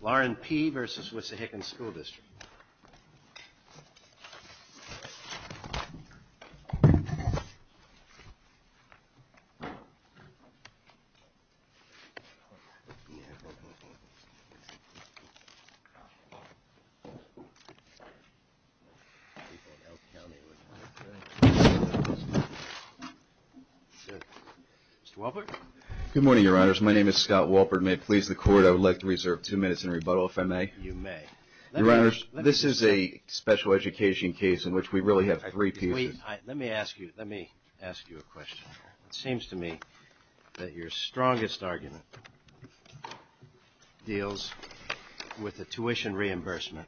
Warren P v. Wissahickon School District. Mr. Walpert. Good morning, Your Honors. My name is Scott Walpert. May it please the Court, I would like to reserve two minutes in rebuttal, if I may. You may. Your Honors, this is a special education case in which we really have three pieces. Let me ask you a question. It seems to me that your strongest argument deals with the tuition reimbursement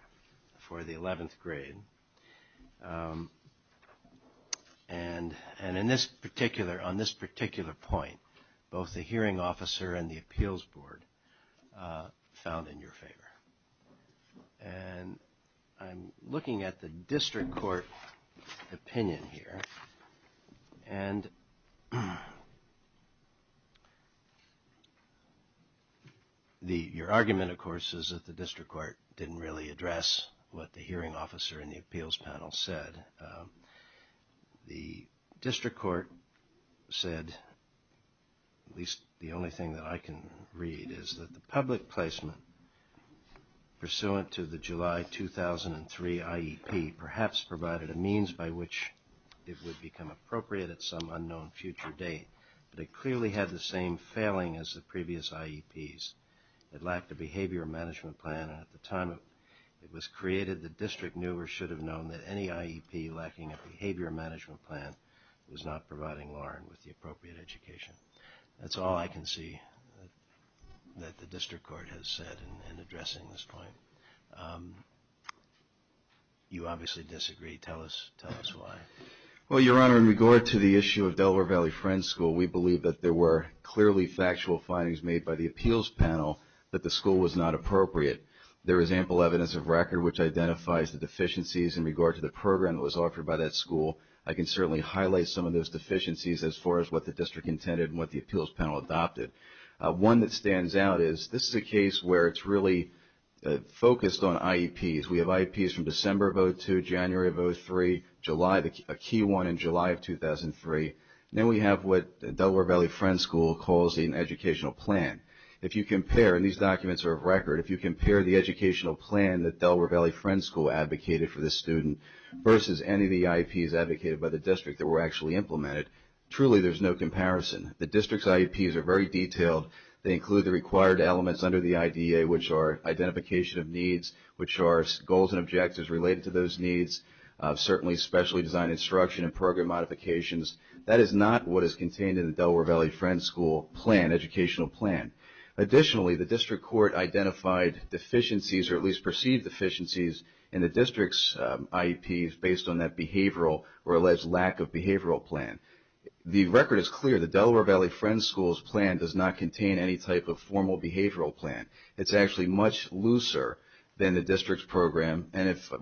for the 11th grade. And on this particular point, both the hearing officer and the appeals board found in your favor. And I'm looking at the district court opinion here. And your argument, of course, is that the district court didn't really address what the hearing officer and the appeals panel said. The district court said, at least the only thing that I can read, is that the public placement, pursuant to the July 2003 IEP, perhaps provided a means by which it would become appropriate at some unknown future date. But it clearly had the same failing as the previous IEPs. It lacked a behavior management plan. And at the time it was created, the district knew or should have known that any IEP lacking a behavior management plan was not providing Lauren with the appropriate education. That's all I can see that the district court has said in addressing this point. You obviously disagree. Tell us why. Well, Your Honor, in regard to the issue of Delaware Valley Friends School, we believe that there were clearly factual findings made by the appeals panel that the school was not appropriate. There is ample evidence of record which identifies the deficiencies in regard to the program that was offered by that school. I can certainly highlight some of those deficiencies as far as what the district intended and what the appeals panel adopted. One that stands out is this is a case where it's really focused on IEPs. We have IEPs from December of 2002, January of 2003, July, a key one in July of 2003. Then we have what Delaware Valley Friends School calls an educational plan. If you compare, and these documents are of record, if you compare the educational plan that Delaware Valley Friends School advocated for this student versus any of the IEPs advocated by the district that were actually implemented, truly there's no comparison. The district's IEPs are very detailed. They include the required elements under the IDEA, which are identification of needs, which are goals and objectives related to those needs, certainly specially designed instruction and program modifications. That is not what is contained in the Delaware Valley Friends School plan, educational plan. Additionally, the district court identified deficiencies, or at least perceived deficiencies, in the district's IEPs based on that behavioral or alleged lack of behavioral plan. The record is clear. The Delaware Valley Friends School's plan does not contain any type of formal behavioral plan. It's actually much looser than the district's program.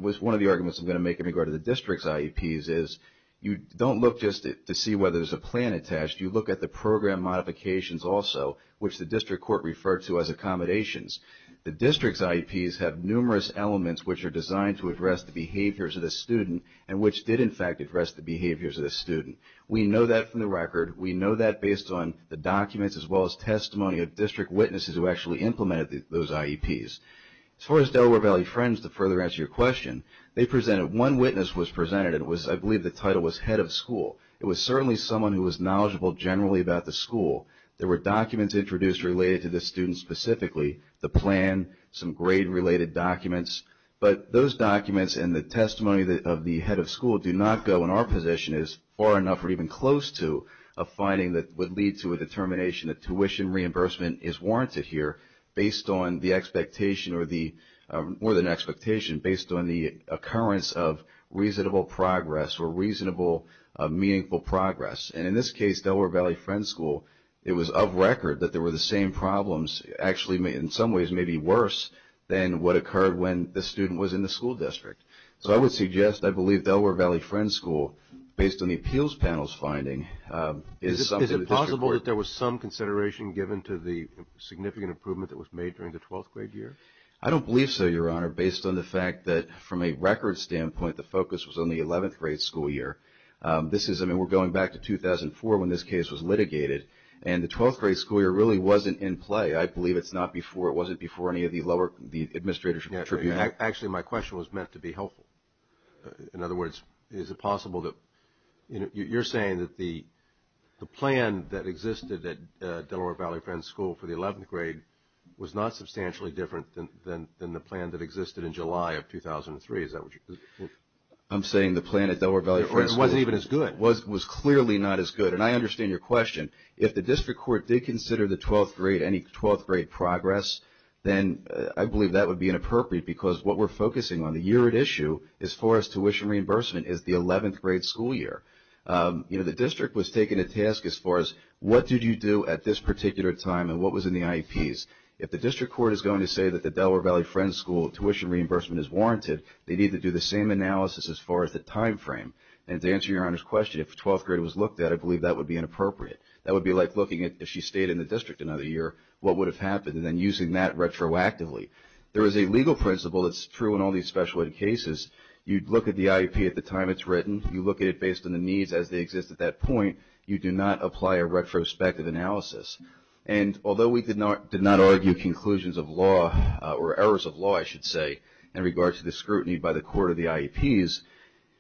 One of the arguments I'm going to make in regard to the district's IEPs is you don't look just to see whether there's a plan attached, you look at the program modifications also, which the district court referred to as accommodations. The district's IEPs have numerous elements which are designed to address the behaviors of the student and which did, in fact, address the behaviors of the student. We know that from the record. We know that based on the documents as well as testimony of district witnesses who actually implemented those IEPs. As far as Delaware Valley Friends, to further answer your question, one witness was presented, and I believe the title was head of school. It was certainly someone who was knowledgeable generally about the school. There were documents introduced related to this student specifically, the plan, some grade-related documents. But those documents and the testimony of the head of school do not go in our position as far enough or even close to a finding that would lead to a determination that tuition reimbursement is warranted here based on the expectation or the, more than expectation, based on the occurrence of reasonable progress or reasonable meaningful progress. And in this case, Delaware Valley Friends School, it was of record that there were the same problems actually in some ways maybe worse than what occurred when the student was in the school district. So I would suggest I believe Delaware Valley Friends School, based on the appeals panel's finding, Is it possible that there was some consideration given to the significant improvement that was made during the 12th grade year? I don't believe so, Your Honor, based on the fact that from a record standpoint, the focus was on the 11th grade school year. This is, I mean, we're going back to 2004 when this case was litigated, and the 12th grade school year really wasn't in play. I believe it's not before, it wasn't before any of the lower, the administrators contributed. Actually, my question was meant to be helpful. In other words, is it possible that, you know, you're saying that the plan that existed at Delaware Valley Friends School for the 11th grade was not substantially different than the plan that existed in July of 2003. Is that what you're saying? I'm saying the plan at Delaware Valley Friends School was clearly not as good. And I understand your question. If the district court did consider the 12th grade, any 12th grade progress, then I believe that would be inappropriate because what we're focusing on, the year at issue as far as tuition reimbursement is the 11th grade school year. You know, the district was taking a task as far as what did you do at this particular time and what was in the IEPs. If the district court is going to say that the Delaware Valley Friends School tuition reimbursement is warranted, they need to do the same analysis as far as the time frame. And to answer Your Honor's question, if the 12th grade was looked at, I believe that would be inappropriate. That would be like looking at if she stayed in the district another year, what would have happened, and then using that retroactively. There is a legal principle that's true in all these special ed cases. You look at the IEP at the time it's written. You look at it based on the needs as they exist at that point. You do not apply a retrospective analysis. And although we did not argue conclusions of law or errors of law, I should say, in regard to the scrutiny by the court of the IEPs,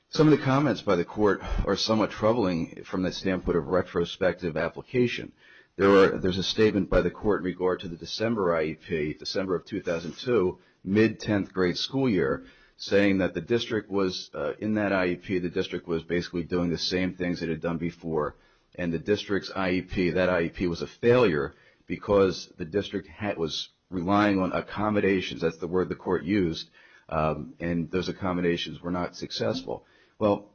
some of the comments by the court are somewhat troubling from the standpoint of retrospective application. There's a statement by the court in regard to the December IEP, December of 2002, mid-10th grade school year, saying that the district was, in that IEP, the district was basically doing the same things it had done before. And the district's IEP, that IEP was a failure because the district was relying on accommodations. That's the word the court used. And those accommodations were not successful. Well,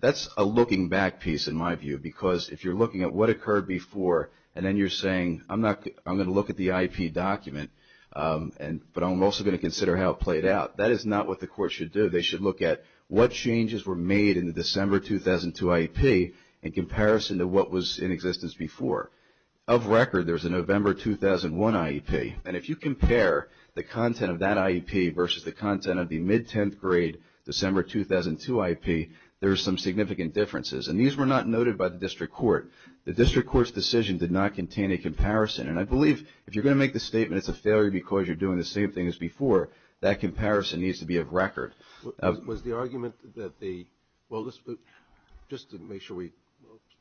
that's a looking back piece, in my view, because if you're looking at what occurred before and then you're saying, I'm going to look at the IEP document, but I'm also going to consider how it played out, that is not what the court should do. They should look at what changes were made in the December 2002 IEP in comparison to what was in existence before. Of record, there's a November 2001 IEP. And if you compare the content of that IEP versus the content of the mid-10th grade December 2002 IEP, there's some significant differences. And these were not noted by the district court. The district court's decision did not contain a comparison. And I believe if you're going to make the statement it's a failure because you're doing the same thing as before, that comparison needs to be of record. Was the argument that the, well, just to make sure we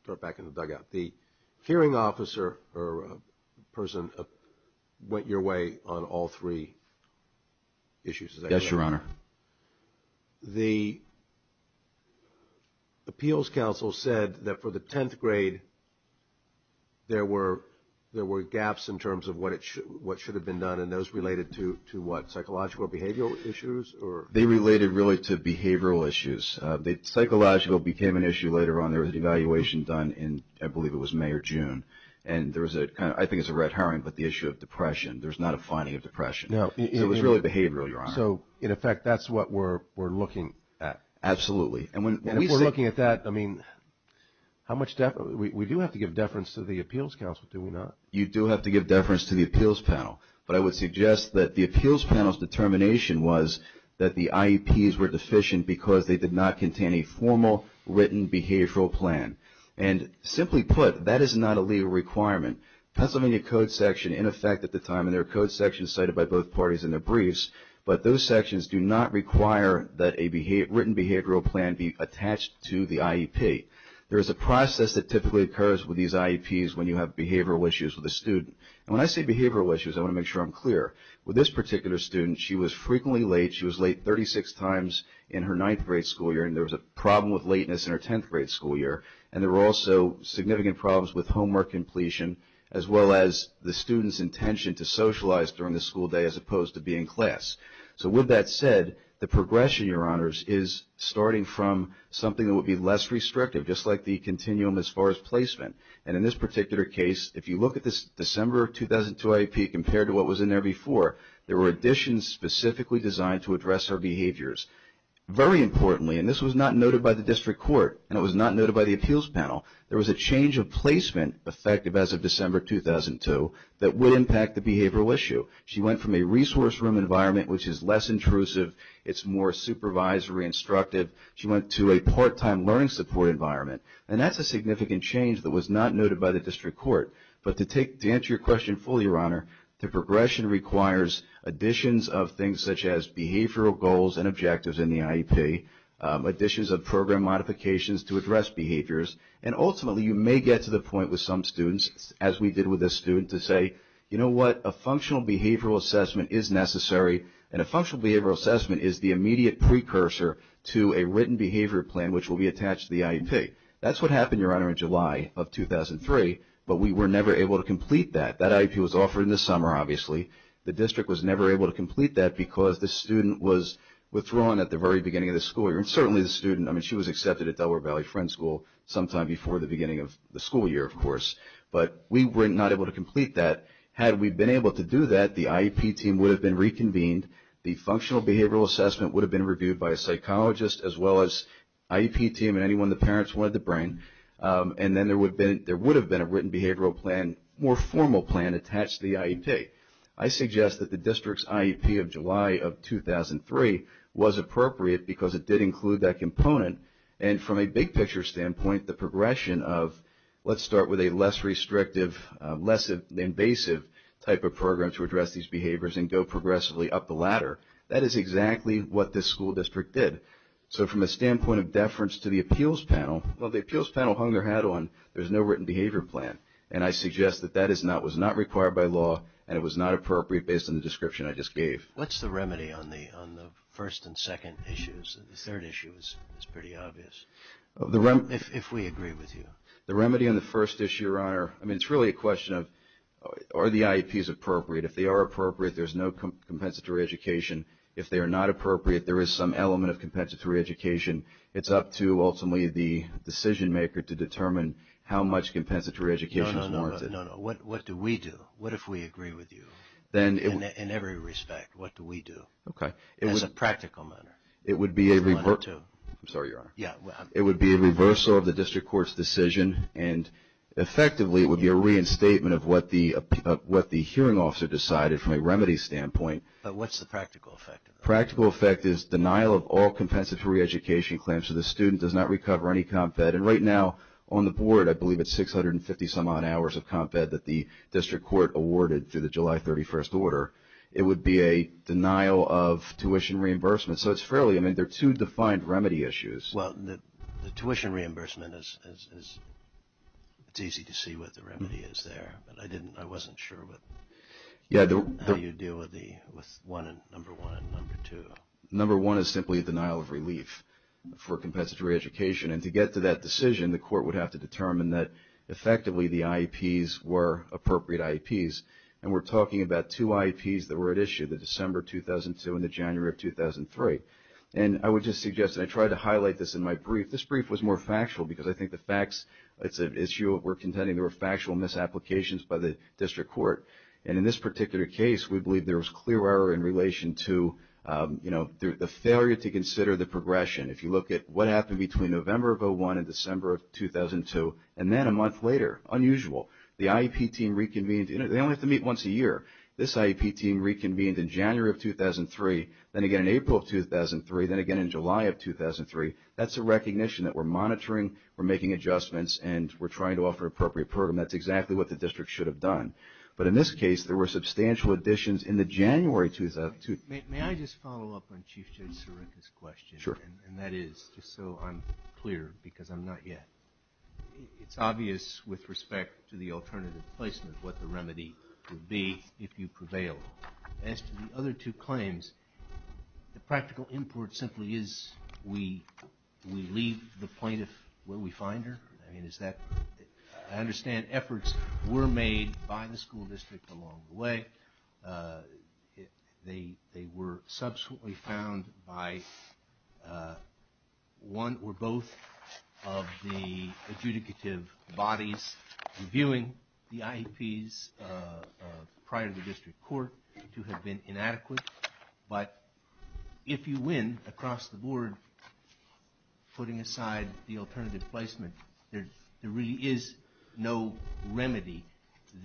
start back in the dugout, the hearing officer or person went your way on all three issues. Yes, Your Honor. The appeals counsel said that for the 10th grade there were gaps in terms of what should have been done and those related to what, psychological behavioral issues or? They related really to behavioral issues. Psychological became an issue later on. There was an evaluation done in, I believe it was May or June. And there was a kind of, I think it's a red herring, but the issue of depression. There's not a finding of depression. It was really behavioral, Your Honor. So, in effect, that's what we're looking at. Absolutely. And if we're looking at that, I mean, how much deference, we do have to give deference to the appeals counsel, do we not? You do have to give deference to the appeals panel. But I would suggest that the appeals panel's determination was that the IEPs were deficient because they did not contain a formal written behavioral plan. And simply put, that is not a legal requirement. Pennsylvania Code section, in effect at the time, and there are code sections cited by both parties in their briefs, but those sections do not require that a written behavioral plan be attached to the IEP. There is a process that typically occurs with these IEPs when you have behavioral issues with a student. And when I say behavioral issues, I want to make sure I'm clear. With this particular student, she was frequently late. She was late 36 times in her 9th grade school year, and there was a problem with lateness in her 10th grade school year. And there were also significant problems with homework completion, as well as the student's intention to socialize during the school day as opposed to being in class. So, with that said, the progression, Your Honors, is starting from something that would be less restrictive, just like the continuum as far as placement. And in this particular case, if you look at this December of 2002 IEP compared to what was in there before, there were additions specifically designed to address her behaviors. Very importantly, and this was not noted by the district court, and it was not noted by the appeals panel, there was a change of placement, effective as of December 2002, that would impact the behavioral issue. She went from a resource room environment, which is less intrusive, it's more supervisory, instructive. She went to a part-time learning support environment. And that's a significant change that was not noted by the district court. But to answer your question fully, Your Honor, the progression requires additions of things such as behavioral goals and objectives in the IEP, additions of program modifications to address behaviors, and ultimately you may get to the point with some students, as we did with this student, to say, you know what, a functional behavioral assessment is necessary, and a functional behavioral assessment is the immediate precursor to a written behavior plan, which will be attached to the IEP. That's what happened, Your Honor, in July of 2003, but we were never able to complete that. That IEP was offered in the summer, obviously. The district was never able to complete that because the student was withdrawn at the very beginning of the school year, and certainly the student, I mean, she was accepted at Delaware Valley Friend School sometime before the beginning of the school year, of course, but we were not able to complete that. Had we been able to do that, the IEP team would have been reconvened, the functional behavioral assessment would have been reviewed by a psychologist as well as IEP team and anyone the parents wanted to bring, and then there would have been a written behavioral plan, more formal plan attached to the IEP. I suggest that the district's IEP of July of 2003 was appropriate because it did include that component, and from a big picture standpoint, the progression of let's start with a less restrictive, less invasive type of program to address these behaviors and go progressively up the ladder, that is exactly what this school district did. So from a standpoint of deference to the appeals panel, well, the appeals panel hung their hat on, there's no written behavior plan, and I suggest that that was not required by law and it was not appropriate based on the description I just gave. What's the remedy on the first and second issues? The third issue is pretty obvious, if we agree with you. The remedy on the first issue, Your Honor, I mean, it's really a question of are the IEPs appropriate? If they are appropriate, there's no compensatory education. If they are not appropriate, there is some element of compensatory education. It's up to ultimately the decision maker to determine how much compensatory education is warranted. No, no, no, what do we do? What if we agree with you in every respect? What do we do? Okay. As a practical matter. It would be a reversal of the district court's decision. And effectively, it would be a reinstatement of what the hearing officer decided from a remedy standpoint. But what's the practical effect? Practical effect is denial of all compensatory education claims. So the student does not recover any comp-fed. And right now on the board, I believe it's 650-some-odd hours of comp-fed that the district court awarded through the July 31st order. It would be a denial of tuition reimbursement. So it's fairly, I mean, they're two defined remedy issues. Well, the tuition reimbursement is, it's easy to see what the remedy is there. But I didn't, I wasn't sure with how you deal with the, with number one and number two. Number one is simply denial of relief for compensatory education. And to get to that decision, the court would have to determine that effectively the IEPs were appropriate IEPs. And we're talking about two IEPs that were at issue, the December 2002 and the January of 2003. And I would just suggest that I try to highlight this in my brief. This brief was more factual because I think the facts, it's an issue we're contending there were factual misapplications by the district court. And in this particular case, we believe there was clear error in relation to, you know, the failure to consider the progression. If you look at what happened between November of 2001 and December of 2002, and then a month later, unusual. The IEP team reconvened. They only have to meet once a year. This IEP team reconvened in January of 2003, then again in April of 2003, then again in July of 2003. That's a recognition that we're monitoring, we're making adjustments, and we're trying to offer appropriate program. That's exactly what the district should have done. But in this case, there were substantial additions in the January 2002. May I just follow up on Chief Judge Sirica's question? Sure. And that is, just so I'm clear, because I'm not yet. It's obvious with respect to the alternative placement what the remedy would be if you prevail. As to the other two claims, the practical import simply is we leave the plaintiff where we find her? I mean, is that – I understand efforts were made by the school district along the way. They were subsequently found by one or both of the adjudicative bodies reviewing the IEPs prior to the district court to have been inadequate. But if you win across the board, putting aside the alternative placement, there really is no remedy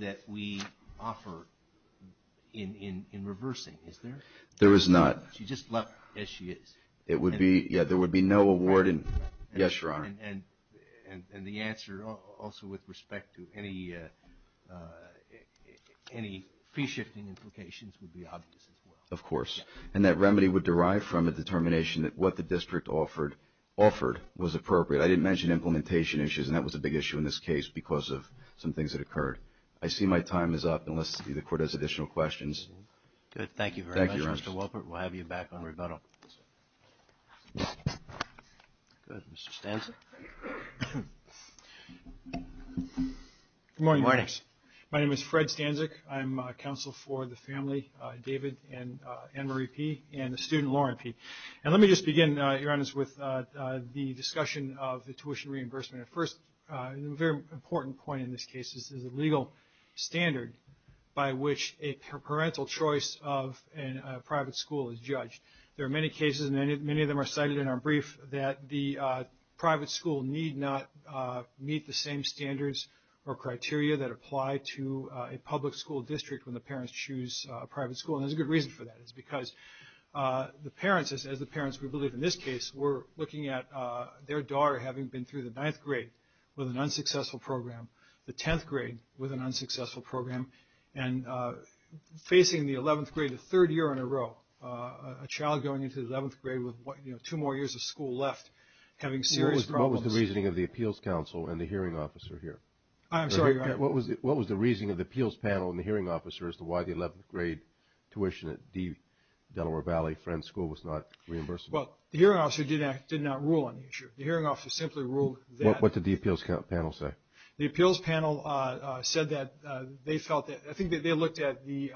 that we offer in reversing, is there? There is not. She just left as she is. It would be – yeah, there would be no award in – yes, Your Honor. And the answer also with respect to any fee-shifting implications would be obvious as well. Of course. And that remedy would derive from a determination that what the district offered was appropriate. I didn't mention implementation issues, and that was a big issue in this case because of some things that occurred. I see my time is up, unless the court has additional questions. Good. Thank you very much, Mr. Wolpert. Thank you, Your Honor. We'll have you back on rebuttal. Go ahead, Mr. Stanczyk. Good morning. Good morning. My name is Fred Stanczyk. I'm counsel for the family, David and Annemarie Peay, and the student, Lauren Peay. And let me just begin, Your Honor, with the discussion of the tuition reimbursement. First, a very important point in this case is the legal standard by which a parental choice of a private school is judged. There are many cases, and many of them are cited in our brief, that the private school need not meet the same standards or criteria that apply to a public school district when the parents choose a private school. And there's a good reason for that. It's because the parents, as the parents we believe in this case, were looking at their daughter having been through the ninth grade with an unsuccessful program, the tenth grade with an unsuccessful program, and facing the eleventh grade the third year in a row, a child going into the eleventh grade with two more years of school left having serious problems. What was the reasoning of the appeals council and the hearing officer here? I'm sorry, Your Honor. What was the reasoning of the appeals panel and the hearing officer as to why the eleventh grade tuition at D. Delaware Valley Friends School was not reimbursed? Well, the hearing officer did not rule on the issue. The hearing officer simply ruled that. What did the appeals panel say? The appeals panel said that they felt that they looked at the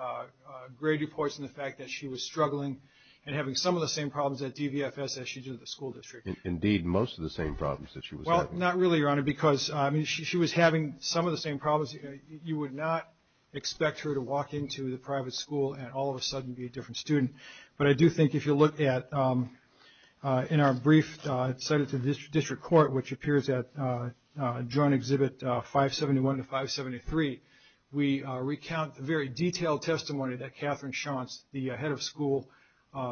grade reports and the fact that she was struggling and having some of the same problems at DVFS as she did at the school district. Indeed, most of the same problems that she was having. Well, not really, Your Honor, because she was having some of the same problems. You would not expect her to walk into the private school and all of a sudden be a different student. But I do think if you look at, in our brief cited to the district court, which appears at Joint Exhibit 571 to 573, we recount the very detailed testimony that Catherine Schantz, the head of school,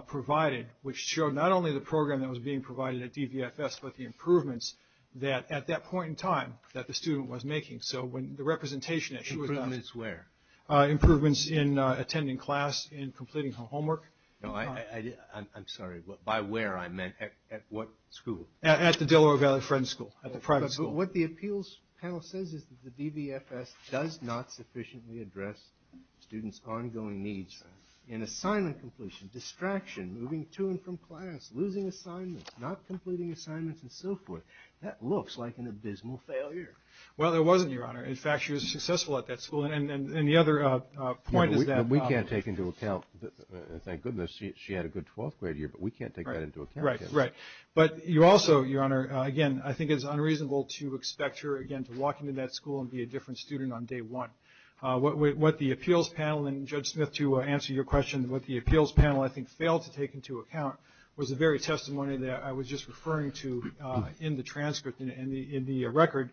provided, which showed not only the program that was being provided at DVFS, but the improvements that, at that point in time, that the student was making. So when the representation that she was having. Improvements where? Improvements in attending class, in completing her homework. No, I'm sorry. By where, I meant at what school? At the Delaware Valley Friends School, at the private school. But what the appeals panel says is that the DVFS does not sufficiently address students' ongoing needs. In assignment completion, distraction, moving to and from class, losing assignments, not completing assignments, and so forth. Well, it wasn't, Your Honor. In fact, she was successful at that school. And the other point is that. We can't take into account, thank goodness, she had a good 12th grade year, but we can't take that into account. Right, right. But you also, Your Honor, again, I think it's unreasonable to expect her, again, to walk into that school and be a different student on day one. What the appeals panel, and Judge Smith, to answer your question, what the appeals panel I think failed to take into account was the very testimony that I was just referring to in the transcript, in the record,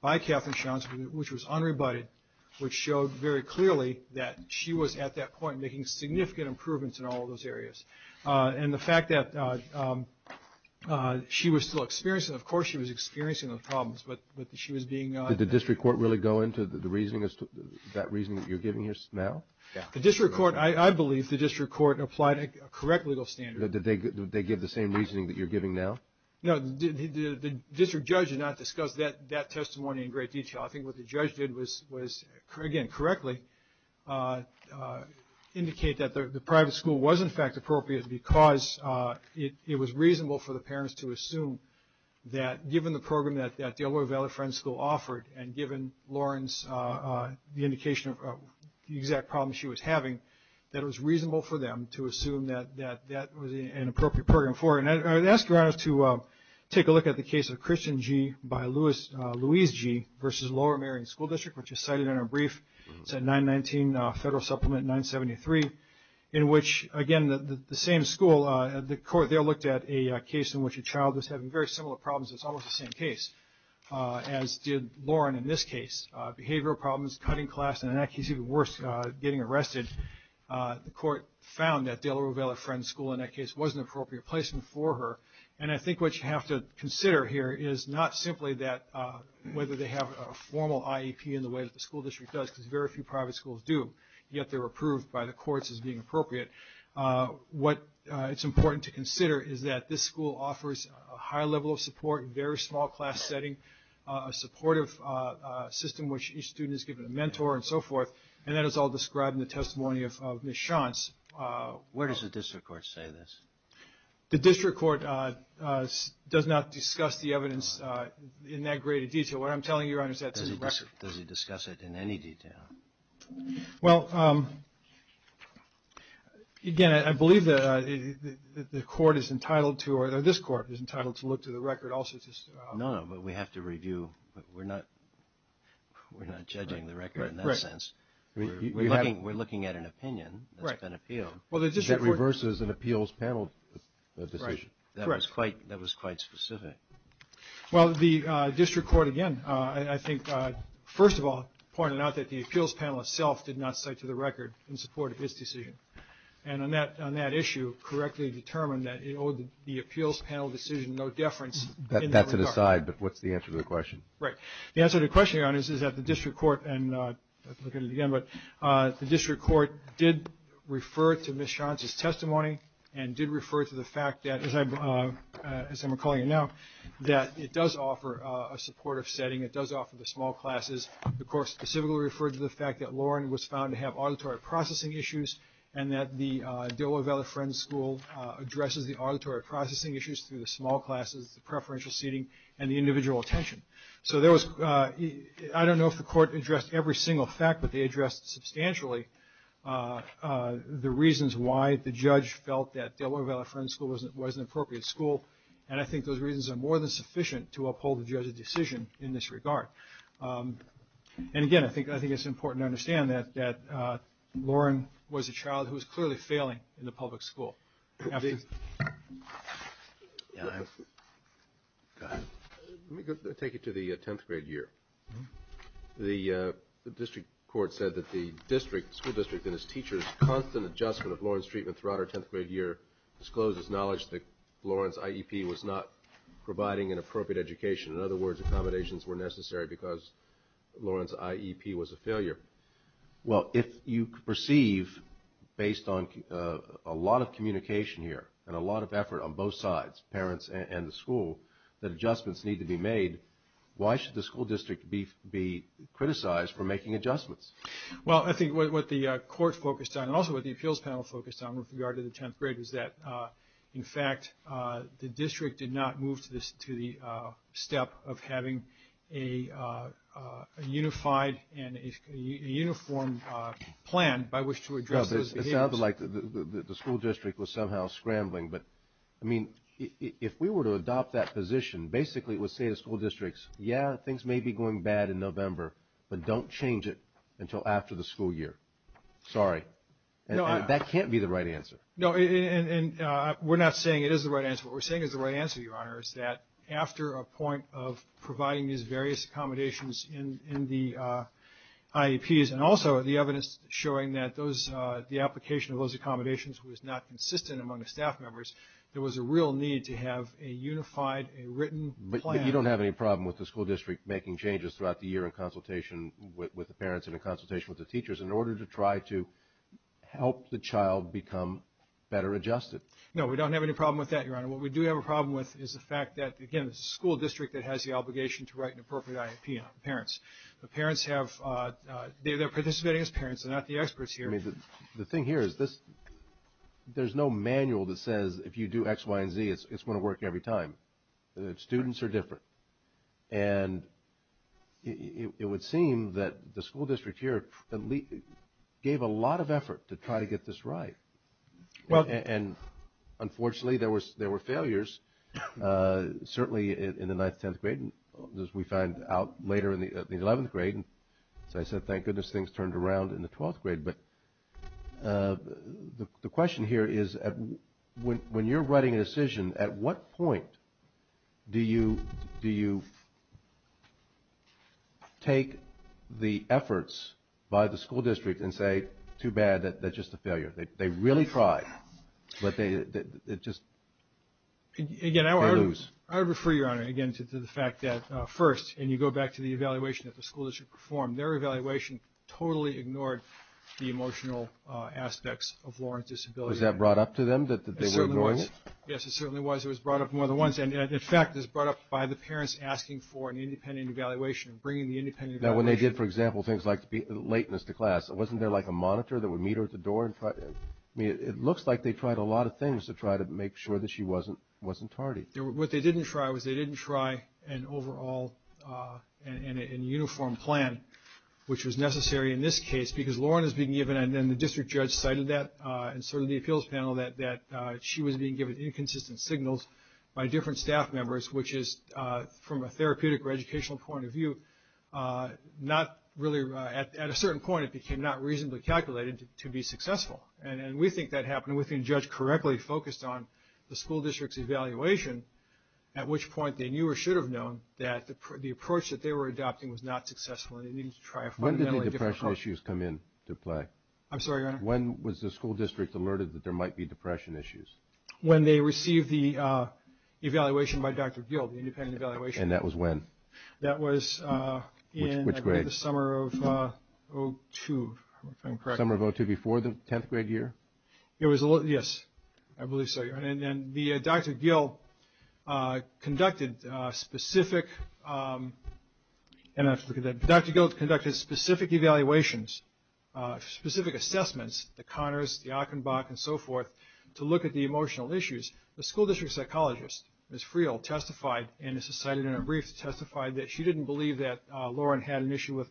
by Katherine Shonsky, which was unrebutted, which showed very clearly that she was at that point making significant improvements in all those areas. And the fact that she was still experiencing, of course she was experiencing those problems, but she was being... Did the district court really go into the reasoning, that reasoning that you're giving here now? Yeah. The district court, I believe the district court applied a correct legal standard. Did they give the same reasoning that you're giving now? No, the district judge did not discuss that testimony in great detail. I think what the judge did was, again, correctly indicate that the private school was, in fact, appropriate because it was reasonable for the parents to assume that, given the program that Delaware Valley Friends School offered, and given Lauren's indication of the exact problems she was having, that it was reasonable for them to assume that that was an appropriate program for her. And I'd ask your Honor to take a look at the case of Christian G. by Louise G. versus Lower Marion School District, which is cited in our brief. It's at 919 Federal Supplement 973, in which, again, the same school, the court there looked at a case in which a child was having very similar problems. It's almost the same case, as did Lauren in this case. Behavioral problems, cutting class, and in that case, even worse, getting arrested. The court found that Delaware Valley Friends School, in that case, was an appropriate placement for her. And I think what you have to consider here is not simply that, whether they have a formal IEP in the way that the school district does, because very few private schools do, yet they're approved by the courts as being appropriate. What it's important to consider is that this school offers a high level of support, very small class setting, a supportive system, which each student is given a mentor and so forth. And that is all described in the testimony of Ms. Shantz. Where does the district court say this? The district court does not discuss the evidence in that great a detail. What I'm telling you, Your Honor, is that it's a record. Does it discuss it in any detail? Well, again, I believe that the court is entitled to, or this court is entitled to look to the record also. No, no, but we have to review. We're not judging the record in that sense. We're looking at an opinion that's been appealed that reverses an appeals panel decision. That was quite specific. Well, the district court, again, I think, first of all, pointed out that the appeals panel itself did not cite to the record in support of this decision. And on that issue, correctly determined that it owed the appeals panel decision no deference. That's an aside, but what's the answer to the question? Right. The answer to the question, Your Honor, is that the district court, and I'll look at it again, but the district court did refer to Ms. Shantz's testimony and did refer to the fact that, as I'm recalling it now, that it does offer a supportive setting. It does offer the small classes. The court specifically referred to the fact that Lauren was found to have auditory processing issues and that the De La Vella Friends School addresses the auditory processing issues through the small classes, the preferential seating, and the individual attention. So I don't know if the court addressed every single fact, but they addressed substantially the reasons why the judge felt that De La Vella Friends School wasn't an appropriate school. And I think those reasons are more than sufficient to uphold the judge's decision in this regard. And, again, I think it's important to understand that Lauren was a child who was clearly failing in the public school. Go ahead. Let me take you to the 10th grade year. The district court said that the school district and its teachers' constant adjustment of Lauren's treatment throughout her 10th grade year disclosed its knowledge that Lauren's IEP was not providing an appropriate education. In other words, accommodations were necessary because Lauren's IEP was a failure. Well, if you perceive, based on a lot of communication here and a lot of effort on both sides, parents and the school, that adjustments need to be made, why should the school district be criticized for making adjustments? Well, I think what the court focused on and also what the appeals panel focused on with regard to the 10th grade was that, in fact, the district did not move to the step of having a unified or a uniform plan by which to address those behaviors. It sounded like the school district was somehow scrambling, but, I mean, if we were to adopt that position, basically it would say to school districts, yeah, things may be going bad in November, but don't change it until after the school year. Sorry. That can't be the right answer. No, and we're not saying it is the right answer. What we're saying is the right answer, Your Honor, is that after a point of providing these various accommodations in the IEPs and also the evidence showing that the application of those accommodations was not consistent among the staff members, there was a real need to have a unified, a written plan. But you don't have any problem with the school district making changes throughout the year in consultation with the parents and in consultation with the teachers in order to try to help the child become better adjusted? No, we don't have any problem with that, Your Honor. What we do have a problem with is the fact that, again, it's the school district that has the obligation to write an appropriate IEP on parents. The parents have – they're participating as parents. They're not the experts here. I mean, the thing here is this – there's no manual that says if you do X, Y, and Z, it's going to work every time. The students are different. And it would seem that the school district here gave a lot of effort to try to get this right. And, unfortunately, there were failures, certainly in the 9th, 10th grade, as we find out later in the 11th grade. As I said, thank goodness things turned around in the 12th grade. But the question here is when you're writing a decision, at what point do you take the efforts by the school district and say, too bad, that's just a failure? They really tried, but they just – they lose. Again, I would refer, Your Honor, again, to the fact that, first, and you go back to the evaluation that the school district performed, their evaluation totally ignored the emotional aspects of Lawrence's disability. Was that brought up to them that they were ignoring it? It certainly was. Yes, it certainly was. It was brought up more than once. And, in fact, it was brought up by the parents asking for an independent evaluation and bringing the independent evaluation. Now, when they did, for example, things like the lateness to class, wasn't there, like, a monitor that would meet her at the door? I mean, it looks like they tried a lot of things to try to make sure that she wasn't tardy. What they didn't try was they didn't try an overall and uniform plan, which was necessary in this case because Lawrence was being given, and then the district judge cited that, and certainly the appeals panel, that she was being given inconsistent signals by different staff members, which is, from a therapeutic or educational point of view, not really – at a certain point it became not reasonably calculated to be successful. And we think that happened. We think the judge correctly focused on the school district's evaluation, at which point they knew or should have known that the approach that they were adopting was not successful and they needed to try a fundamentally different approach. When did the depression issues come into play? I'm sorry, Your Honor? When was the school district alerted that there might be depression issues? When they received the evaluation by Dr. Gil, the independent evaluation. And that was when? That was in the summer of 2002, if I'm correct. Summer of 2002, before the 10th grade year? Yes, I believe so, Your Honor. And Dr. Gil conducted specific evaluations, specific assessments, the Conners, the Achenbach, and so forth, to look at the emotional issues. And as cited in her brief, she testified that she didn't believe that Lauren had an issue with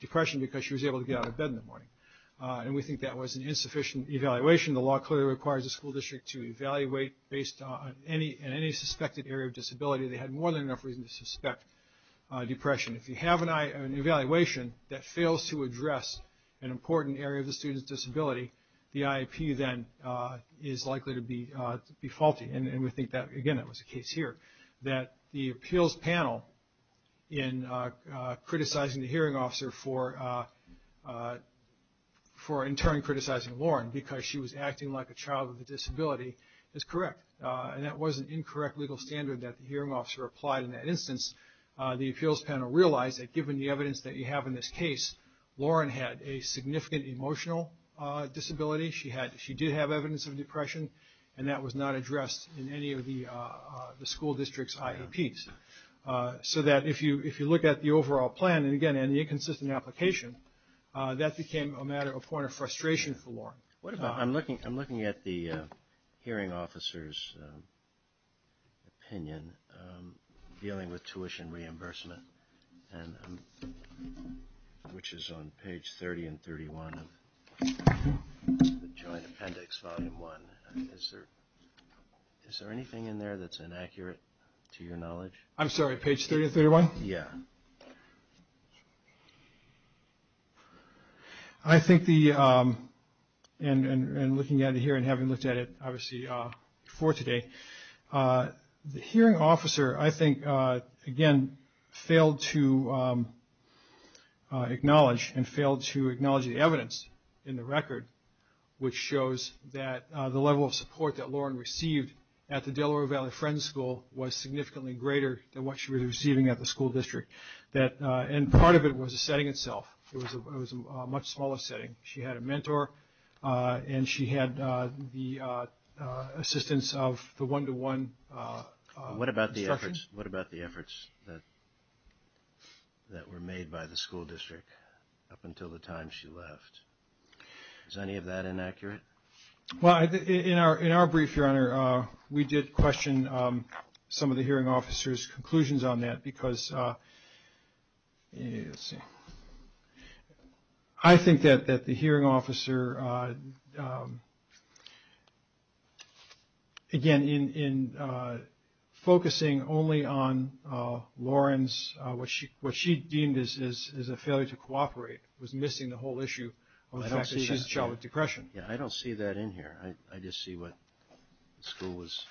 depression because she was able to get out of bed in the morning. And we think that was an insufficient evaluation. The law clearly requires the school district to evaluate, based on any suspected area of disability, they had more than enough reason to suspect depression. If you have an evaluation that fails to address an important area of the student's disability, the IEP then is likely to be faulty. And we think that, again, that was the case here, that the appeals panel in criticizing the hearing officer for in turn criticizing Lauren because she was acting like a child with a disability is correct. And that was an incorrect legal standard that the hearing officer applied in that instance. The appeals panel realized that given the evidence that you have in this case, Lauren had a significant emotional disability. She did have evidence of depression. And that was not addressed in any of the school district's IEPs. So that if you look at the overall plan, and, again, in the inconsistent application, that became a point of frustration for Lauren. I'm looking at the hearing officer's opinion dealing with tuition reimbursement, which is on page 30 and 31 of the joint appendix, volume 1. Is there anything in there that's inaccurate to your knowledge? I'm sorry, page 30 and 31? Yeah. I think the ‑‑ and looking at it here and having looked at it, obviously, before today, the hearing officer, I think, again, failed to acknowledge and failed to acknowledge the evidence in the record, which shows that the level of support that Lauren received at the Delaware Valley Friends School was significantly greater than what she was receiving at the school district. And part of it was the setting itself. It was a much smaller setting. She had a mentor, and she had the assistance of the one‑to‑one instruction. What about the efforts that were made by the school district up until the time she left? Is any of that inaccurate? Well, in our brief, Your Honor, we did question some of the hearing officer's conclusions on that, because I think that the hearing officer, again, in focusing only on Lauren's ‑‑ what she deemed as a failure to cooperate was missing the whole issue of the fact that she's a child with depression. Yeah, I don't see that in here. I just see what the school was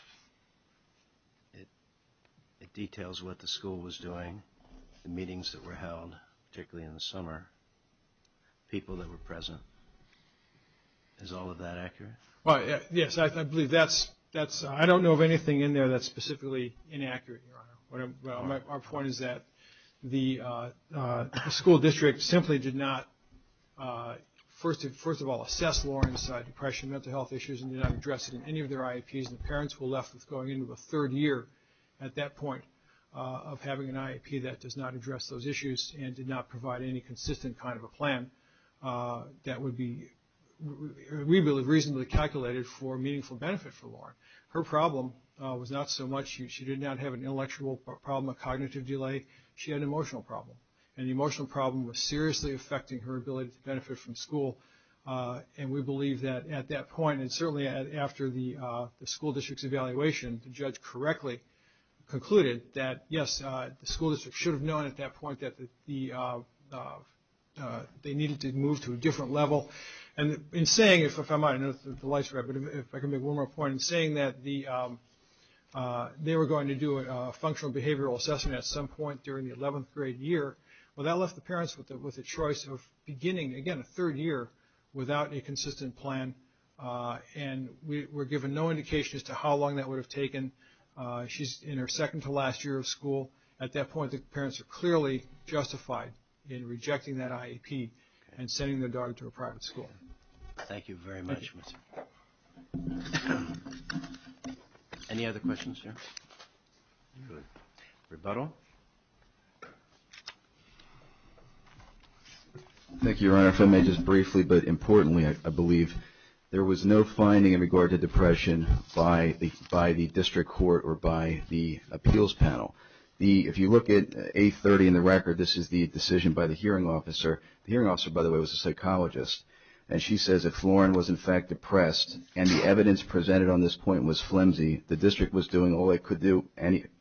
‑‑ it details what the school was doing, the meetings that were held, particularly in the summer, people that were present. Is all of that accurate? Yes, I believe that's ‑‑ I don't know of anything in there that's specifically inaccurate, Your Honor. Our point is that the school district simply did not, first of all, assess Lauren's depression, mental health issues, and did not address it in any of their IAPs. The parents were left with going into a third year at that point of having an IAP that does not address those issues and did not provide any consistent kind of a plan that would be reasonably calculated for meaningful benefit for Lauren. Her problem was not so much she did not have an intellectual problem, a cognitive delay. She had an emotional problem, and the emotional problem was seriously affecting her ability to benefit from school. And we believe that at that point, and certainly after the school district's evaluation, the judge correctly concluded that, yes, the school district should have known at that point that they needed to move to a different level. And in saying, if I can make one more point, in saying that they were going to do a functional behavioral assessment at some point during the 11th grade year, well, that left the parents with a choice of beginning, again, a third year without a consistent plan, and we're given no indication as to how long that would have taken. She's in her second to last year of school. At that point, the parents are clearly justified in rejecting that IAP and sending their daughter to a private school. Thank you very much, Mr. Any other questions here? Rebuttal. Thank you, Your Honor. If I may just briefly, but importantly, I believe there was no finding in regard to depression by the district court or by the appeals panel. If you look at 830 in the record, this is the decision by the hearing officer. The hearing officer, by the way, was a psychologist, and she says, and the evidence presented on this point was flimsy. The district was doing all it could do,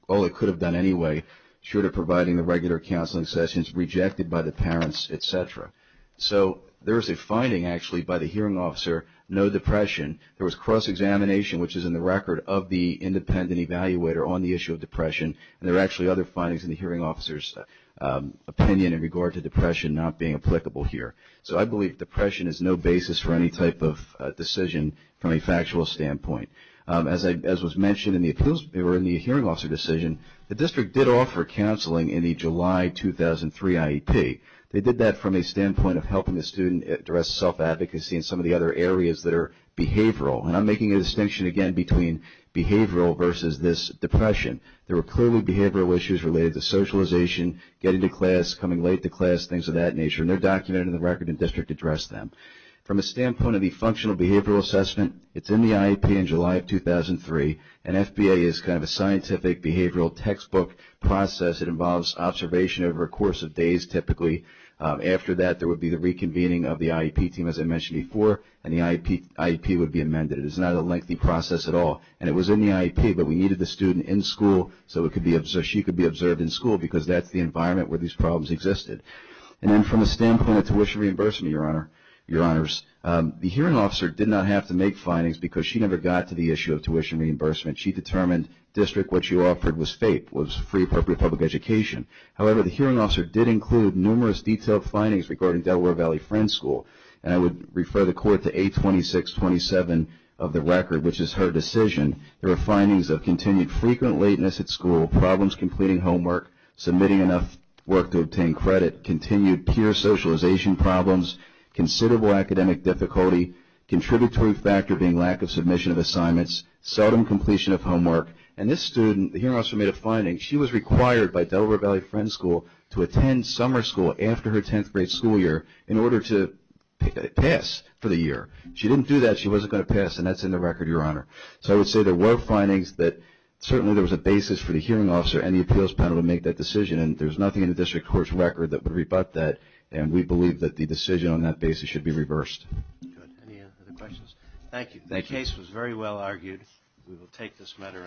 all it could have done anyway, short of providing the regular counseling sessions rejected by the parents, et cetera. So there is a finding, actually, by the hearing officer, no depression. There was cross-examination, which is in the record of the independent evaluator on the issue of depression, and there are actually other findings in the hearing officer's opinion in regard to depression not being applicable here. So I believe depression is no basis for any type of decision from a factual standpoint. As was mentioned in the hearing officer decision, the district did offer counseling in the July 2003 IEP. They did that from a standpoint of helping the student address self-advocacy and some of the other areas that are behavioral, and I'm making a distinction again between behavioral versus this depression. There were clearly behavioral issues related to socialization, getting to class, coming late to class, things of that nature, and they're documented in the record, and the district addressed them. From a standpoint of the functional behavioral assessment, it's in the IEP in July of 2003, and FBA is kind of a scientific behavioral textbook process. It involves observation over a course of days, typically. After that, there would be the reconvening of the IEP team, as I mentioned before, and the IEP would be amended. It is not a lengthy process at all, and it was in the IEP, but we needed the student in school so she could be observed in school because that's the environment where these problems existed. And then from the standpoint of tuition reimbursement, Your Honors, the hearing officer did not have to make findings because she never got to the issue of tuition reimbursement. She determined, district, what you offered was FAPE, was free appropriate public education. However, the hearing officer did include numerous detailed findings regarding Delaware Valley Friends School, and I would refer the court to 82627 of the record, which is her decision. There were findings of continued frequent lateness at school, problems completing homework, submitting enough work to obtain credit, continued peer socialization problems, considerable academic difficulty, contributory factor being lack of submission of assignments, seldom completion of homework, and this student, the hearing officer made a finding. She was required by Delaware Valley Friends School to attend summer school after her 10th grade school year in order to pass for the year. She didn't do that. She wasn't going to pass, and that's in the record, Your Honor. So I would say there were findings that certainly there was a basis for the hearing officer and the appeals panel to make that decision, and there's nothing in the district court's record that would rebut that, and we believe that the decision on that basis should be reversed. Good. Any other questions? Thank you. The case was very well argued. We will take this matter under advisory.